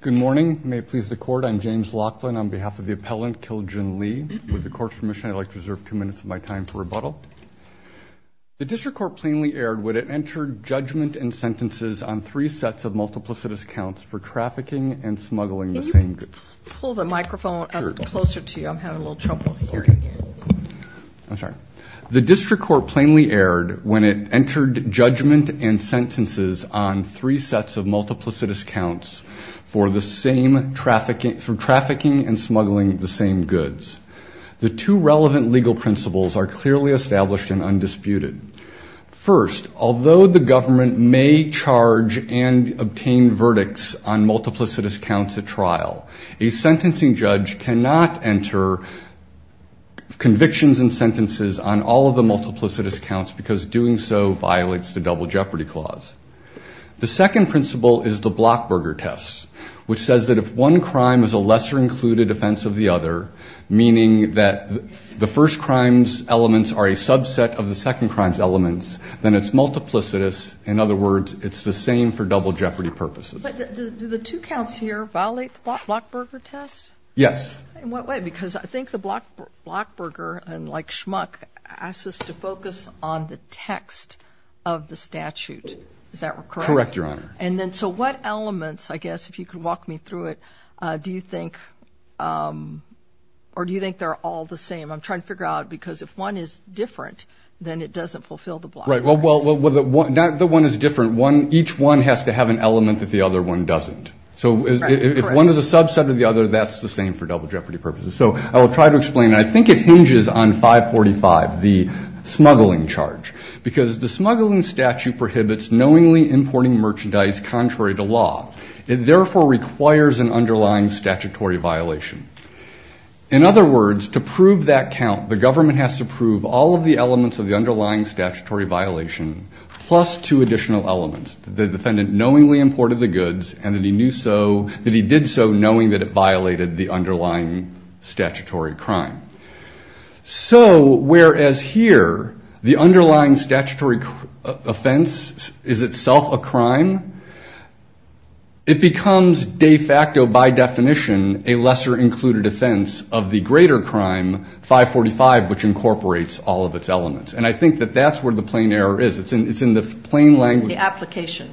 Good morning. May it please the court, I'm James Laughlin on behalf of the appellant Kil Jin Lee. With the court's permission, I'd like to reserve two minutes of my time for rebuttal. The district court plainly erred when it entered judgment and sentences on three sets of multiplicitous counts for trafficking and smuggling the same goods. Can you pull the microphone closer to you? I'm having a little trouble hearing you. I'm sorry. The district court plainly erred when it entered judgment and sentences on three sets of multiplicitous counts for trafficking and smuggling the same goods. The two relevant legal principles are clearly established and undisputed. First, although the government may charge and obtain verdicts on multiplicitous counts at trial, a sentencing judge cannot enter convictions and sentences on all of the multiplicitous counts because doing so which says that if one crime is a lesser included offense of the other, meaning that the first crimes elements are a subset of the second crimes elements, then it's multiplicitous. In other words, it's the same for double jeopardy purposes. But do the two counts here violate the Blockberger test? Yes. In what way? Because I think the Blockberger, like Schmuck, asks us to focus on the text of the statute. Is that correct? Correct, Your Honor. And then so what elements, I guess, if you could walk me through it, do you think or do you think they're all the same? I'm trying to figure out because if one is different then it doesn't fulfill the Blockberger test. Well, not that one is different. Each one has to have an element that the other one doesn't. So if one is a subset of the other, that's the same for double jeopardy purposes. So I will try to explain. I think it hinges on 545, the smuggling charge, because the smuggling statute prohibits knowingly importing merchandise contrary to law. It therefore requires an underlying statutory violation. In other words, to prove that count, the government has to prove all of the elements of the underlying statutory violation plus two additional elements. The defendant knowingly imported the goods and that he knew so, that he did so knowing that it violated the underlying statutory crime. So whereas here, the underlying statutory offense is itself a crime, it becomes de facto, by definition, a lesser included offense of the greater crime, 545, which incorporates all of its elements. And I think that that's where the plain error is. It's in the plain language. The application.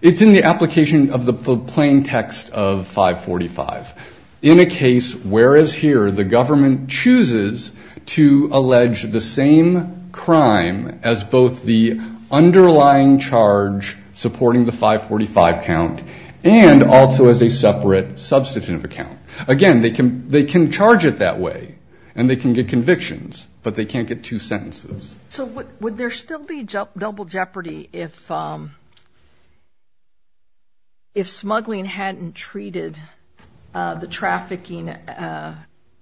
It's in the application of the plain text of 545. In a case where as here, the government chooses to allege the same crime as both the underlying charge supporting the 545 count and also as a separate substantive account. Again, they can charge it that way and they can get convictions, but they can't get two sentences. So would there still be double jeopardy if smuggling hadn't treated the crime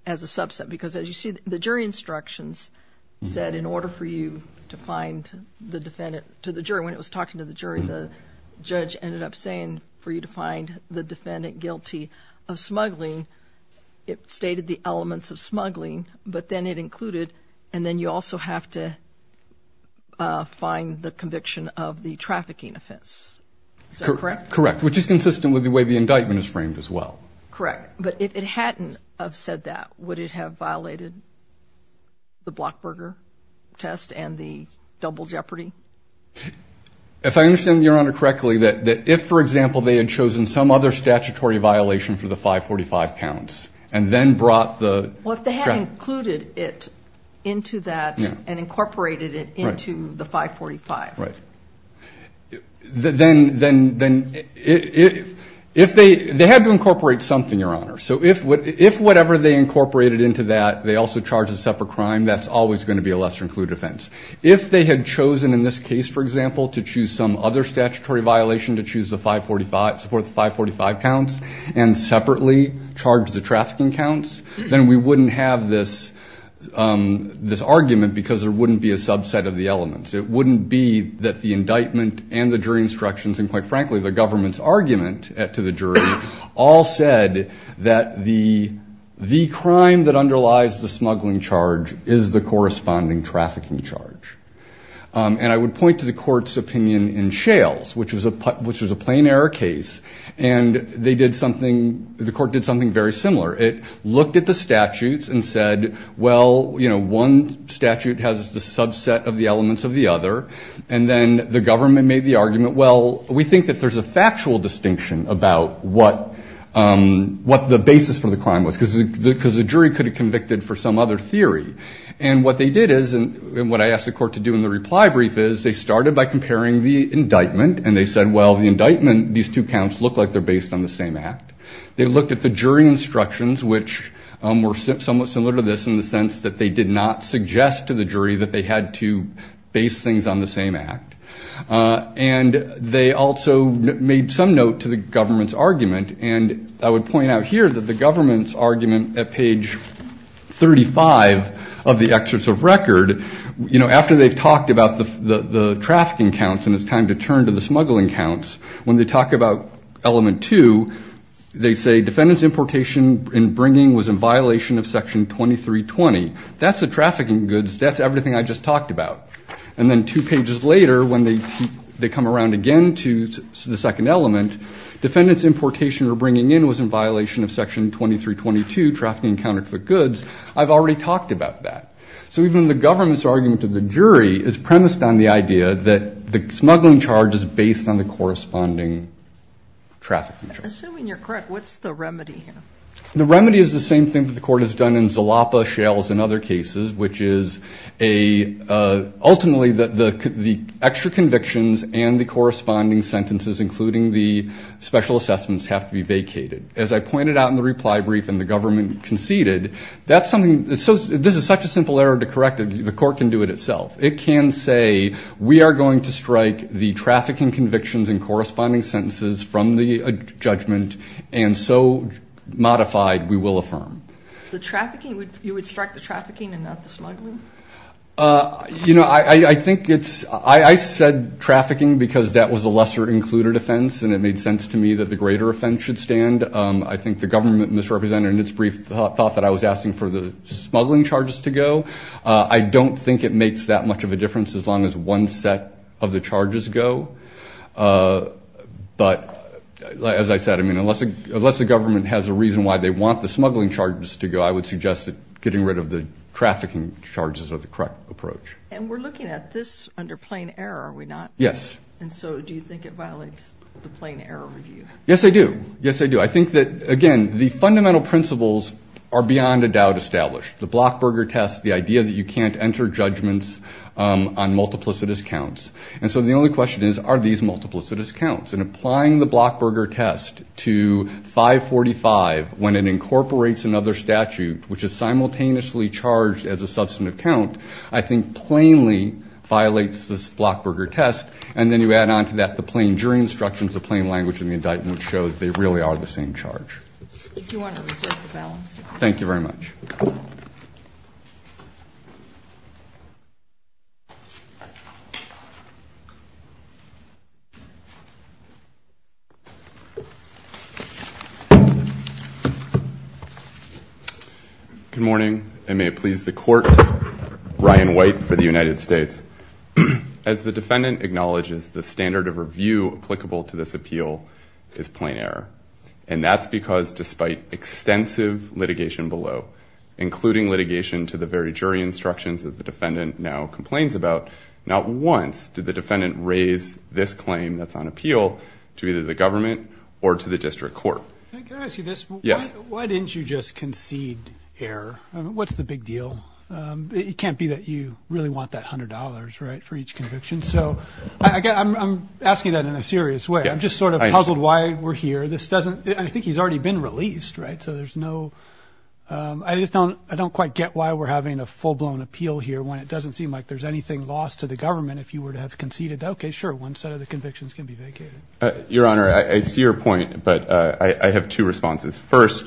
as a subset? Because as you see, the jury instructions said in order for you to find the defendant to the jury, when it was talking to the jury, the judge ended up saying for you to find the defendant guilty of smuggling. It stated the elements of smuggling, but then it included, and then you also have to find the conviction of the trafficking offense. Is that correct? Correct. Which is consistent with the way the indictment is framed as well. Correct. But if it hadn't have said that, would it have violated the Blockberger test and the double jeopardy? If I understand your honor correctly, that if, for example, they had chosen some other statutory violation for the 545 counts and then brought the... Well, if they hadn't included it into that and incorporated it into the 545. Right. Then if they had to incorporate something, your honor. So if whatever they incorporated into that, they also charged a separate crime, that's always going to be a lesser included offense. If they had chosen in this case, for example, to choose some other statutory violation to support the 545 counts and separately charge the trafficking counts, then we wouldn't have this argument because there wouldn't be a that the indictment and the jury instructions, and quite frankly, the government's argument to the jury, all said that the crime that underlies the smuggling charge is the corresponding trafficking charge. And I would point to the court's opinion in Shales, which was a plain error case, and they did something, the court did something very similar. It looked at the statutes and said, well, one statute has the subset of the elements of the other, and then the government made the argument, well, we think that there's a factual distinction about what the basis for the crime was because the jury could have convicted for some other theory. And what they did is, and what I asked the court to do in the reply brief is they started by comparing the indictment and they said, well, the indictment, these two counts look like they're based on the same act. They looked at the jury instructions, which were somewhat similar to this in the sense that they did not suggest to the jury that they had to base things on the same act, and they also made some note to the government's argument. And I would point out here that the government's argument at page 35 of the excerpts of record, you know, after they've talked about the trafficking counts and it's time to turn to the smuggling counts, when they talk about element two, they say defendant's importation in bringing was in violation of section 2320. That's the trafficking goods. That's everything I just talked about. And then two pages later, when they come around again to the second element, defendant's importation or bringing in was in violation of section 2322, trafficking counterfeit goods. I've already talked about that. So even the government's argument of the jury is premised on the idea that the smuggling charge is based on the corresponding trafficking charge. Assuming you're correct, what's the remedy here? The remedy is the same thing that the court has done in Zalapa, Shales, and other cases, which is ultimately the extra convictions and the corresponding sentences, including the special assessments, have to be vacated. As I pointed out in the reply brief and the government conceded, that's something, this is such a simple error to correct, the court can do it itself. It can say, we are going to strike the trafficking convictions and we will affirm. The trafficking, you would strike the trafficking and not the smuggling? I said trafficking because that was a lesser included offense. And it made sense to me that the greater offense should stand. I think the government misrepresented in its brief thought that I was asking for the smuggling charges to go. I don't think it makes that much of a difference as long as one set of the charges go, but as I said, unless the government has a reason why they want the smuggling charges to go, I would suggest that getting rid of the trafficking charges are the correct approach. And we're looking at this under plain error, are we not? Yes. And so do you think it violates the plain error review? Yes, I do. Yes, I do. I think that, again, the fundamental principles are beyond a doubt established, the Blockberger test, the idea that you can't enter judgments on multiplicitous counts. And so the only question is, are these multiplicitous counts? And applying the Blockberger test to 545 when it incorporates another statute, which is simultaneously charged as a substantive count, I think plainly violates this Blockberger test. And then you add on to that, the plain jury instructions, the plain language and the indictment show that they really are the same charge. Thank you very much. Good morning, and may it please the court, Ryan White for the United States. As the defendant acknowledges, the standard of review applicable to this appeal is plain error. And that's because despite extensive litigation below, including litigation to the very jury instructions that the defendant now complains about, not once appeal, which is plain error. And that's because despite extensive litigation below, including litigation to either the government or to the district court. Can I ask you this? Yes. Why didn't you just concede error? What's the big deal? It can't be that you really want that $100, right, for each conviction. So I'm asking that in a serious way. I'm just sort of puzzled why we're here. This doesn't, I think he's already been released, right? So there's no, I just don't, I don't quite get why we're having a full-blown appeal here when it doesn't seem like there's anything lost to the government if you were to have conceded. Okay, sure. One set of the convictions can be vacated. Your Honor, I see your point, but I have two responses. First,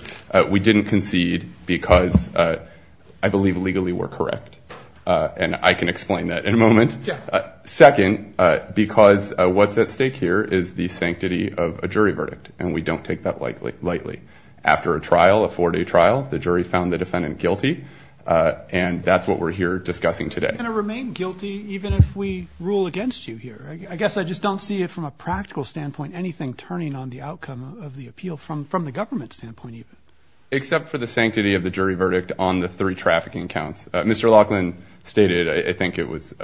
we didn't concede because I believe legally we're correct. And I can explain that in a moment. Second, because what's at stake here is the sanctity of a jury verdict. And we don't take that lightly. After a trial, a four-day trial, the jury found the defendant guilty. And that's what we're here discussing today. You're going to remain guilty even if we rule against you here. I guess I just don't see it from a practical standpoint, anything turning on the outcome of the appeal from the government standpoint. Except for the sanctity of the jury verdict on the three trafficking counts. Mr. Laughlin stated, I think it was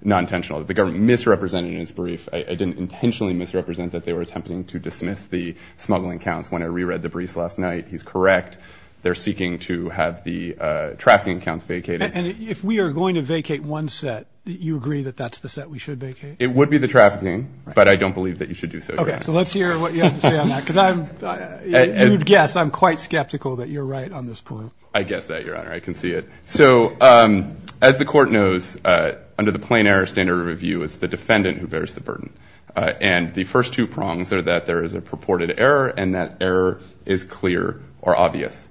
non-intentional, that the government misrepresented his brief. It didn't intentionally misrepresent that they were attempting to dismiss the smuggling counts. When I reread the briefs last night, he's correct. They're seeking to have the trafficking counts vacated. And if we are going to vacate one set, do you agree that that's the set we should vacate? It would be the trafficking. But I don't believe that you should do so, Your Honor. Okay, so let's hear what you have to say on that. Because I'm, you'd guess, I'm quite skeptical that you're right on this point. I guess that, Your Honor. I can see it. So as the court knows, under the plain error standard review, it's the defendant who bears the burden. And the first two prongs are that there is a purported error, and that error is clear or obvious.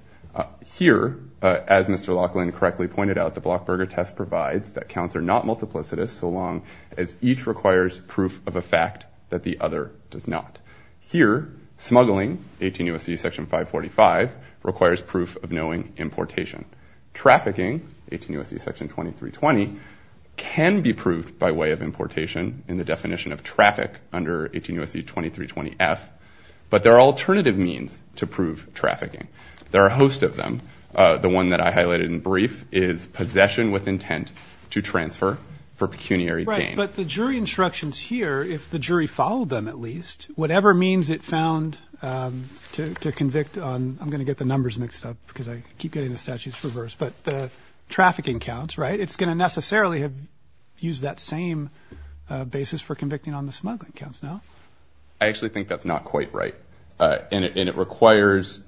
Here, as Mr. Laughlin correctly pointed out, the Blockberger test provides that counts are not multiplicitous so long as each requires proof of a fact that the other does not. Here, smuggling, 18 U.S.C. Section 545, requires proof of knowing importation. Trafficking, 18 U.S.C. Section 2320, can be proved by way of importation in the definition of traffic under 18 U.S.C. 2320F, but there are alternative means to prove trafficking. There are a host of them. The one that I highlighted in brief is possession with intent to transfer for pecuniary gain. But the jury instructions here, if the jury followed them at least, whatever means it found to convict on, I'm going to get the numbers mixed up because I keep getting the statutes reversed, but the trafficking counts, right, it's going to necessarily have used that same basis for convicting on the smuggling counts, no? I actually think that's not quite right. And it requires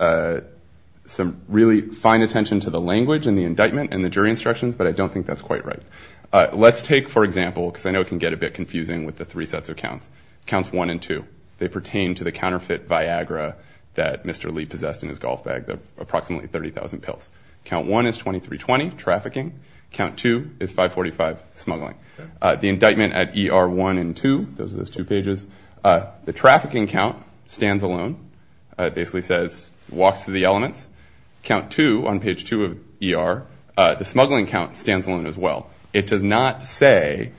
some really fine attention to the language and the indictment and the jury instructions, but I don't think that's quite right. Let's take, for example, because I know it can get a bit confusing with the three sets of counts, counts 1 and 2. They pertain to the counterfeit Viagra that Mr. Lee possessed in his golf bag, approximately 30,000 pills. Count 1 is 2320, trafficking. Count 2 is 545, smuggling. The indictment at ER 1 and 2, those are those two pages. The trafficking count stands alone. It basically says walks through the elements. Count 2, on page 2 of ER, the smuggling count stands alone as well. It does not say,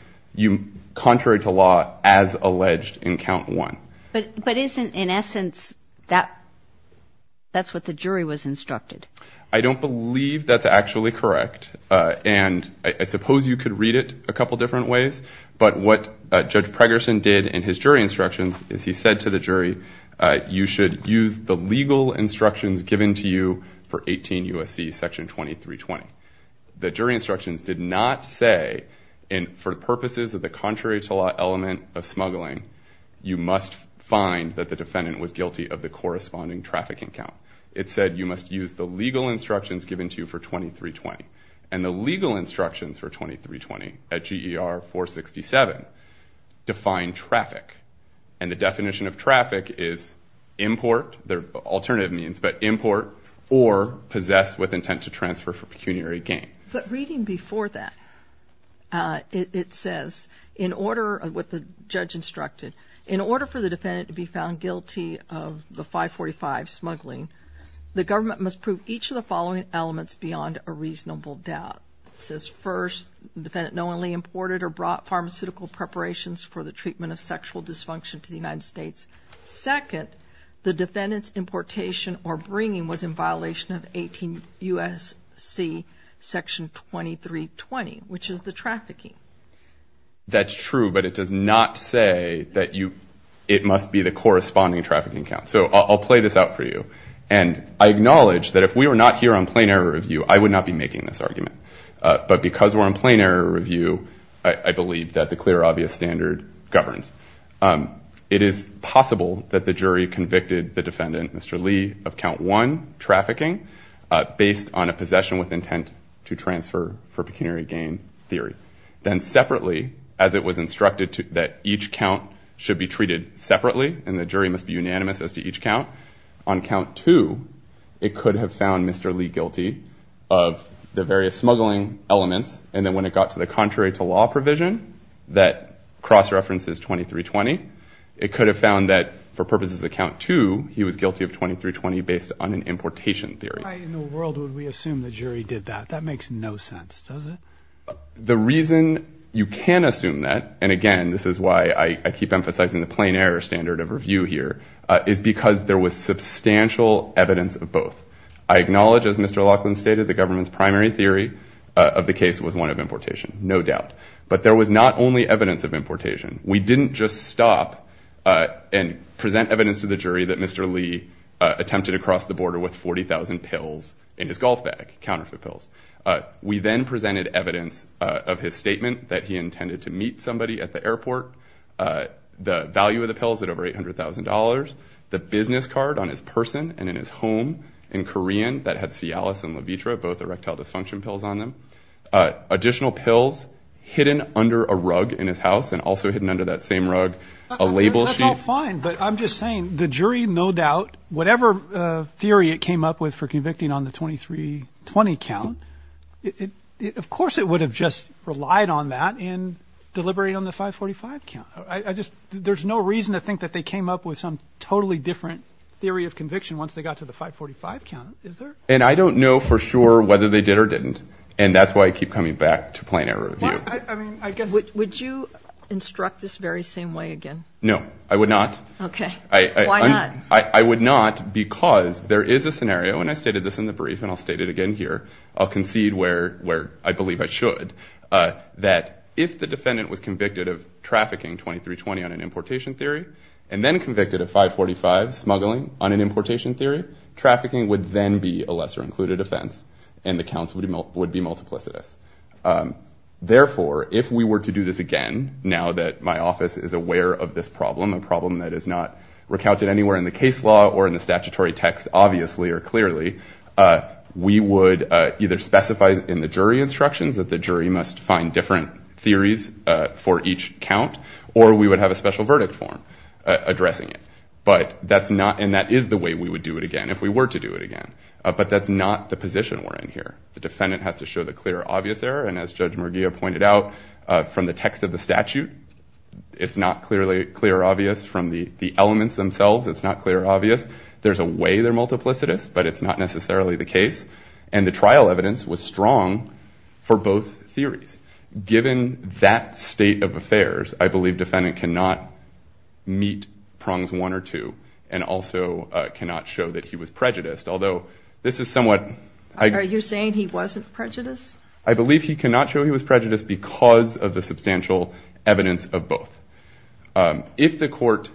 contrary to law, as alleged in count 1. But isn't, in essence, that's what the jury was instructed? I don't believe that's actually correct, and I suppose you could read it a couple different ways, but what Judge Pregerson did in his jury instructions is he said to the jury, you should use the legal instructions given to you for 18 U.S.C. Section 2320. The jury instructions did not say, for purposes of the contrary to law element of smuggling, you must find that the defendant was guilty of the corresponding trafficking count. It said you must use the legal instructions given to you for 2320. And the legal instructions for 2320 at GER 467 define traffic. And the definition of traffic is import, alternative means, but import or possess with intent to transfer for pecuniary gain. But reading before that, it says, in order, what the judge instructed, in order for the defendant to be found guilty of the 545 smuggling, the government must prove each of the following elements beyond a reasonable doubt. It says, first, the defendant knowingly imported or brought pharmaceutical preparations for the treatment of sexual dysfunction to the United States. Second, the defendant's importation or bringing was in violation of 18 U.S.C. Section 2320, which is the trafficking. That's true, but it does not say that it must be the corresponding trafficking count. So I'll play this out for you. And I acknowledge that if we were not here on plain error review, I would not be making this argument. But because we're on plain error review, I believe that the clear, obvious standard governs. It is possible that the jury convicted the defendant, Mr. Lee, of count one, trafficking, based on a possession with intent to transfer for pecuniary gain theory. Then separately, as it was instructed that each count should be treated separately and the jury must be unanimous as to each count, on count two, it could have found Mr. Lee guilty of the various smuggling elements. And then when it got to the contrary to law provision that cross-references 2320, it could have found that for purposes of count two, he was guilty of 2320 based on an importation theory. Why in the world would we assume the jury did that? That makes no sense, does it? The reason you can assume that, and again, this is why I keep emphasizing the plain error standard of review here, is because there was substantial evidence of both. I acknowledge, as Mr. Laughlin stated, the government's primary theory of the case was one of importation, no doubt. But there was not only evidence of importation. We didn't just stop and present evidence to the jury that Mr. Lee attempted to cross the border with 40,000 pills in his golf bag, counterfeit pills. We then presented evidence of his statement that he intended to meet somebody at the airport, the value of the pills at over $800,000, the business card on his person and in his home in Korean that had Cialis and Levitra, both erectile dysfunction pills on them, additional pills hidden under a rug in his house and also hidden under that same rug, a label sheet. That's all fine, but I'm just saying the jury, no doubt, whatever theory it came up with for convicting on the 2320 count, of course it would have just relied on that and deliberated on the 545 count. There's no reason to think that they came up with some totally different theory of conviction once they got to the 545 count, is there? And I don't know for sure whether they did or didn't, and that's why I keep coming back to plain error review. Would you instruct this very same way again? No, I would not. Okay. Why not? I would not because there is a scenario, and I stated this in the brief and I'll state it again here, I'll concede where I believe I should, that if the defendant was convicted of trafficking 2320 on an importation theory and then convicted of 545 smuggling on an importation theory, trafficking would then be a lesser included offense and the counts would be multiplicitous. Therefore, if we were to do this again, now that my office is aware of this problem, a problem that is not recounted anywhere in the case law or in the statutory text, obviously or clearly, we would either specify in the jury instructions that the jury must find different theories for each count or we would have a special verdict form addressing it. But that's not, and that is the way we would do it again if we were to do it again. But that's not the position we're in here. The defendant has to show the clear, obvious error, and as Judge Merguia pointed out, from the text of the statute, it's not clearly clear or obvious. From the elements themselves, it's not clear or obvious. There's a way they're multiplicitous, but it's not necessarily the case, and the trial evidence was strong for both theories. Given that state of affairs, I believe defendant cannot meet prongs one or two and also cannot show that he was prejudiced, although this is somewhat. Are you saying he wasn't prejudiced? I believe he cannot show he was prejudiced because of the substantial evidence of both. If the court,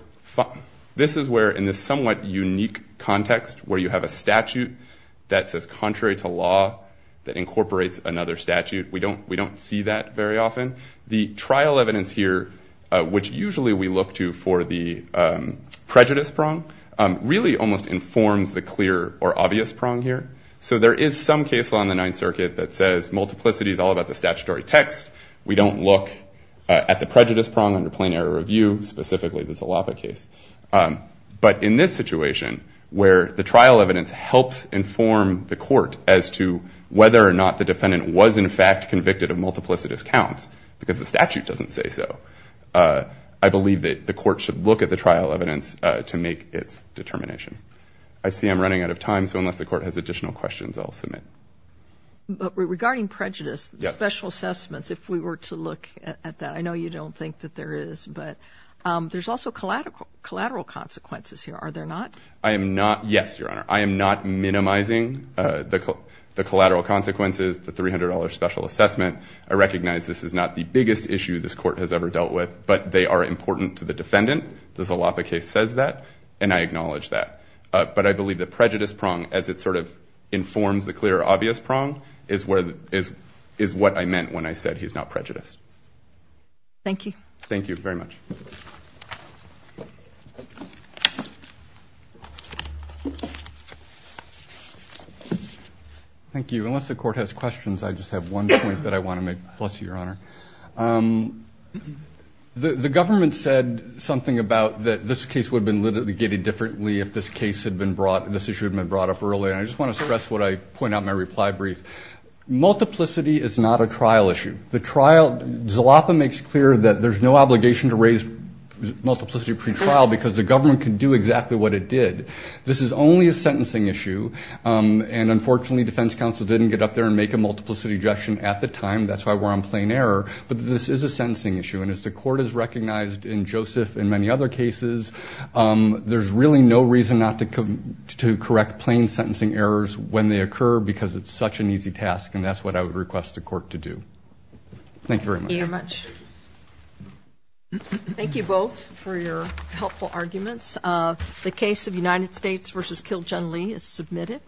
this is where in this somewhat unique context where you have a statute that says contrary to law that incorporates another statute, we don't see that very often. The trial evidence here, which usually we look to for the prejudice prong, really almost informs the clear or obvious prong here. So there is some case law in the Ninth Circuit that says multiplicity is all about the statutory text. We don't look at the prejudice prong under plain error review, specifically the Zalapa case. But in this situation where the trial evidence helps inform the court as to whether or not the defendant was in fact convicted of multiplicitous counts because the statute doesn't say so, I believe that the court should look at the trial evidence to make its determination. I see I'm running out of time, so unless the court has additional questions, I'll submit. But regarding prejudice, special assessments, if we were to look at that, I know you don't think that there is, but there's also collateral consequences here, are there not? I am not, yes, Your Honor. I am not minimizing the collateral consequences, the $300 special assessment. I recognize this is not the biggest issue this court has ever dealt with, but they are important to the defendant. The Zalapa case says that, and I acknowledge that. But I believe the prejudice prong, as it sort of informs the clear obvious prong, is what I meant when I said he's not prejudiced. Thank you. Thank you very much. Thank you. Unless the court has questions, I just have one point that I want to make. Bless you, Your Honor. The government said something about that this case would have been literally gated differently if this case had been brought, if this issue had been brought up earlier, and I just want to stress what I point out in my reply brief. Multiplicity is not a trial issue. The trial, Zalapa makes clear that there's no obligation to raise multiplicity pretrial because the government can do exactly what it did. This is only a sentencing issue, and unfortunately, defense counsel didn't get up there and make a multiplicity objection at the time. That's why we're on plain error. But this is a sentencing issue, and as the court has recognized in Joseph and many other cases, there's really no reason not to correct plain sentencing errors when they occur because it's such an easy task, and that's what I would request the court to do. Thank you very much. Thank you very much. Thank you both for your helpful arguments. The case of United States v. Kil-Jung Lee is submitted.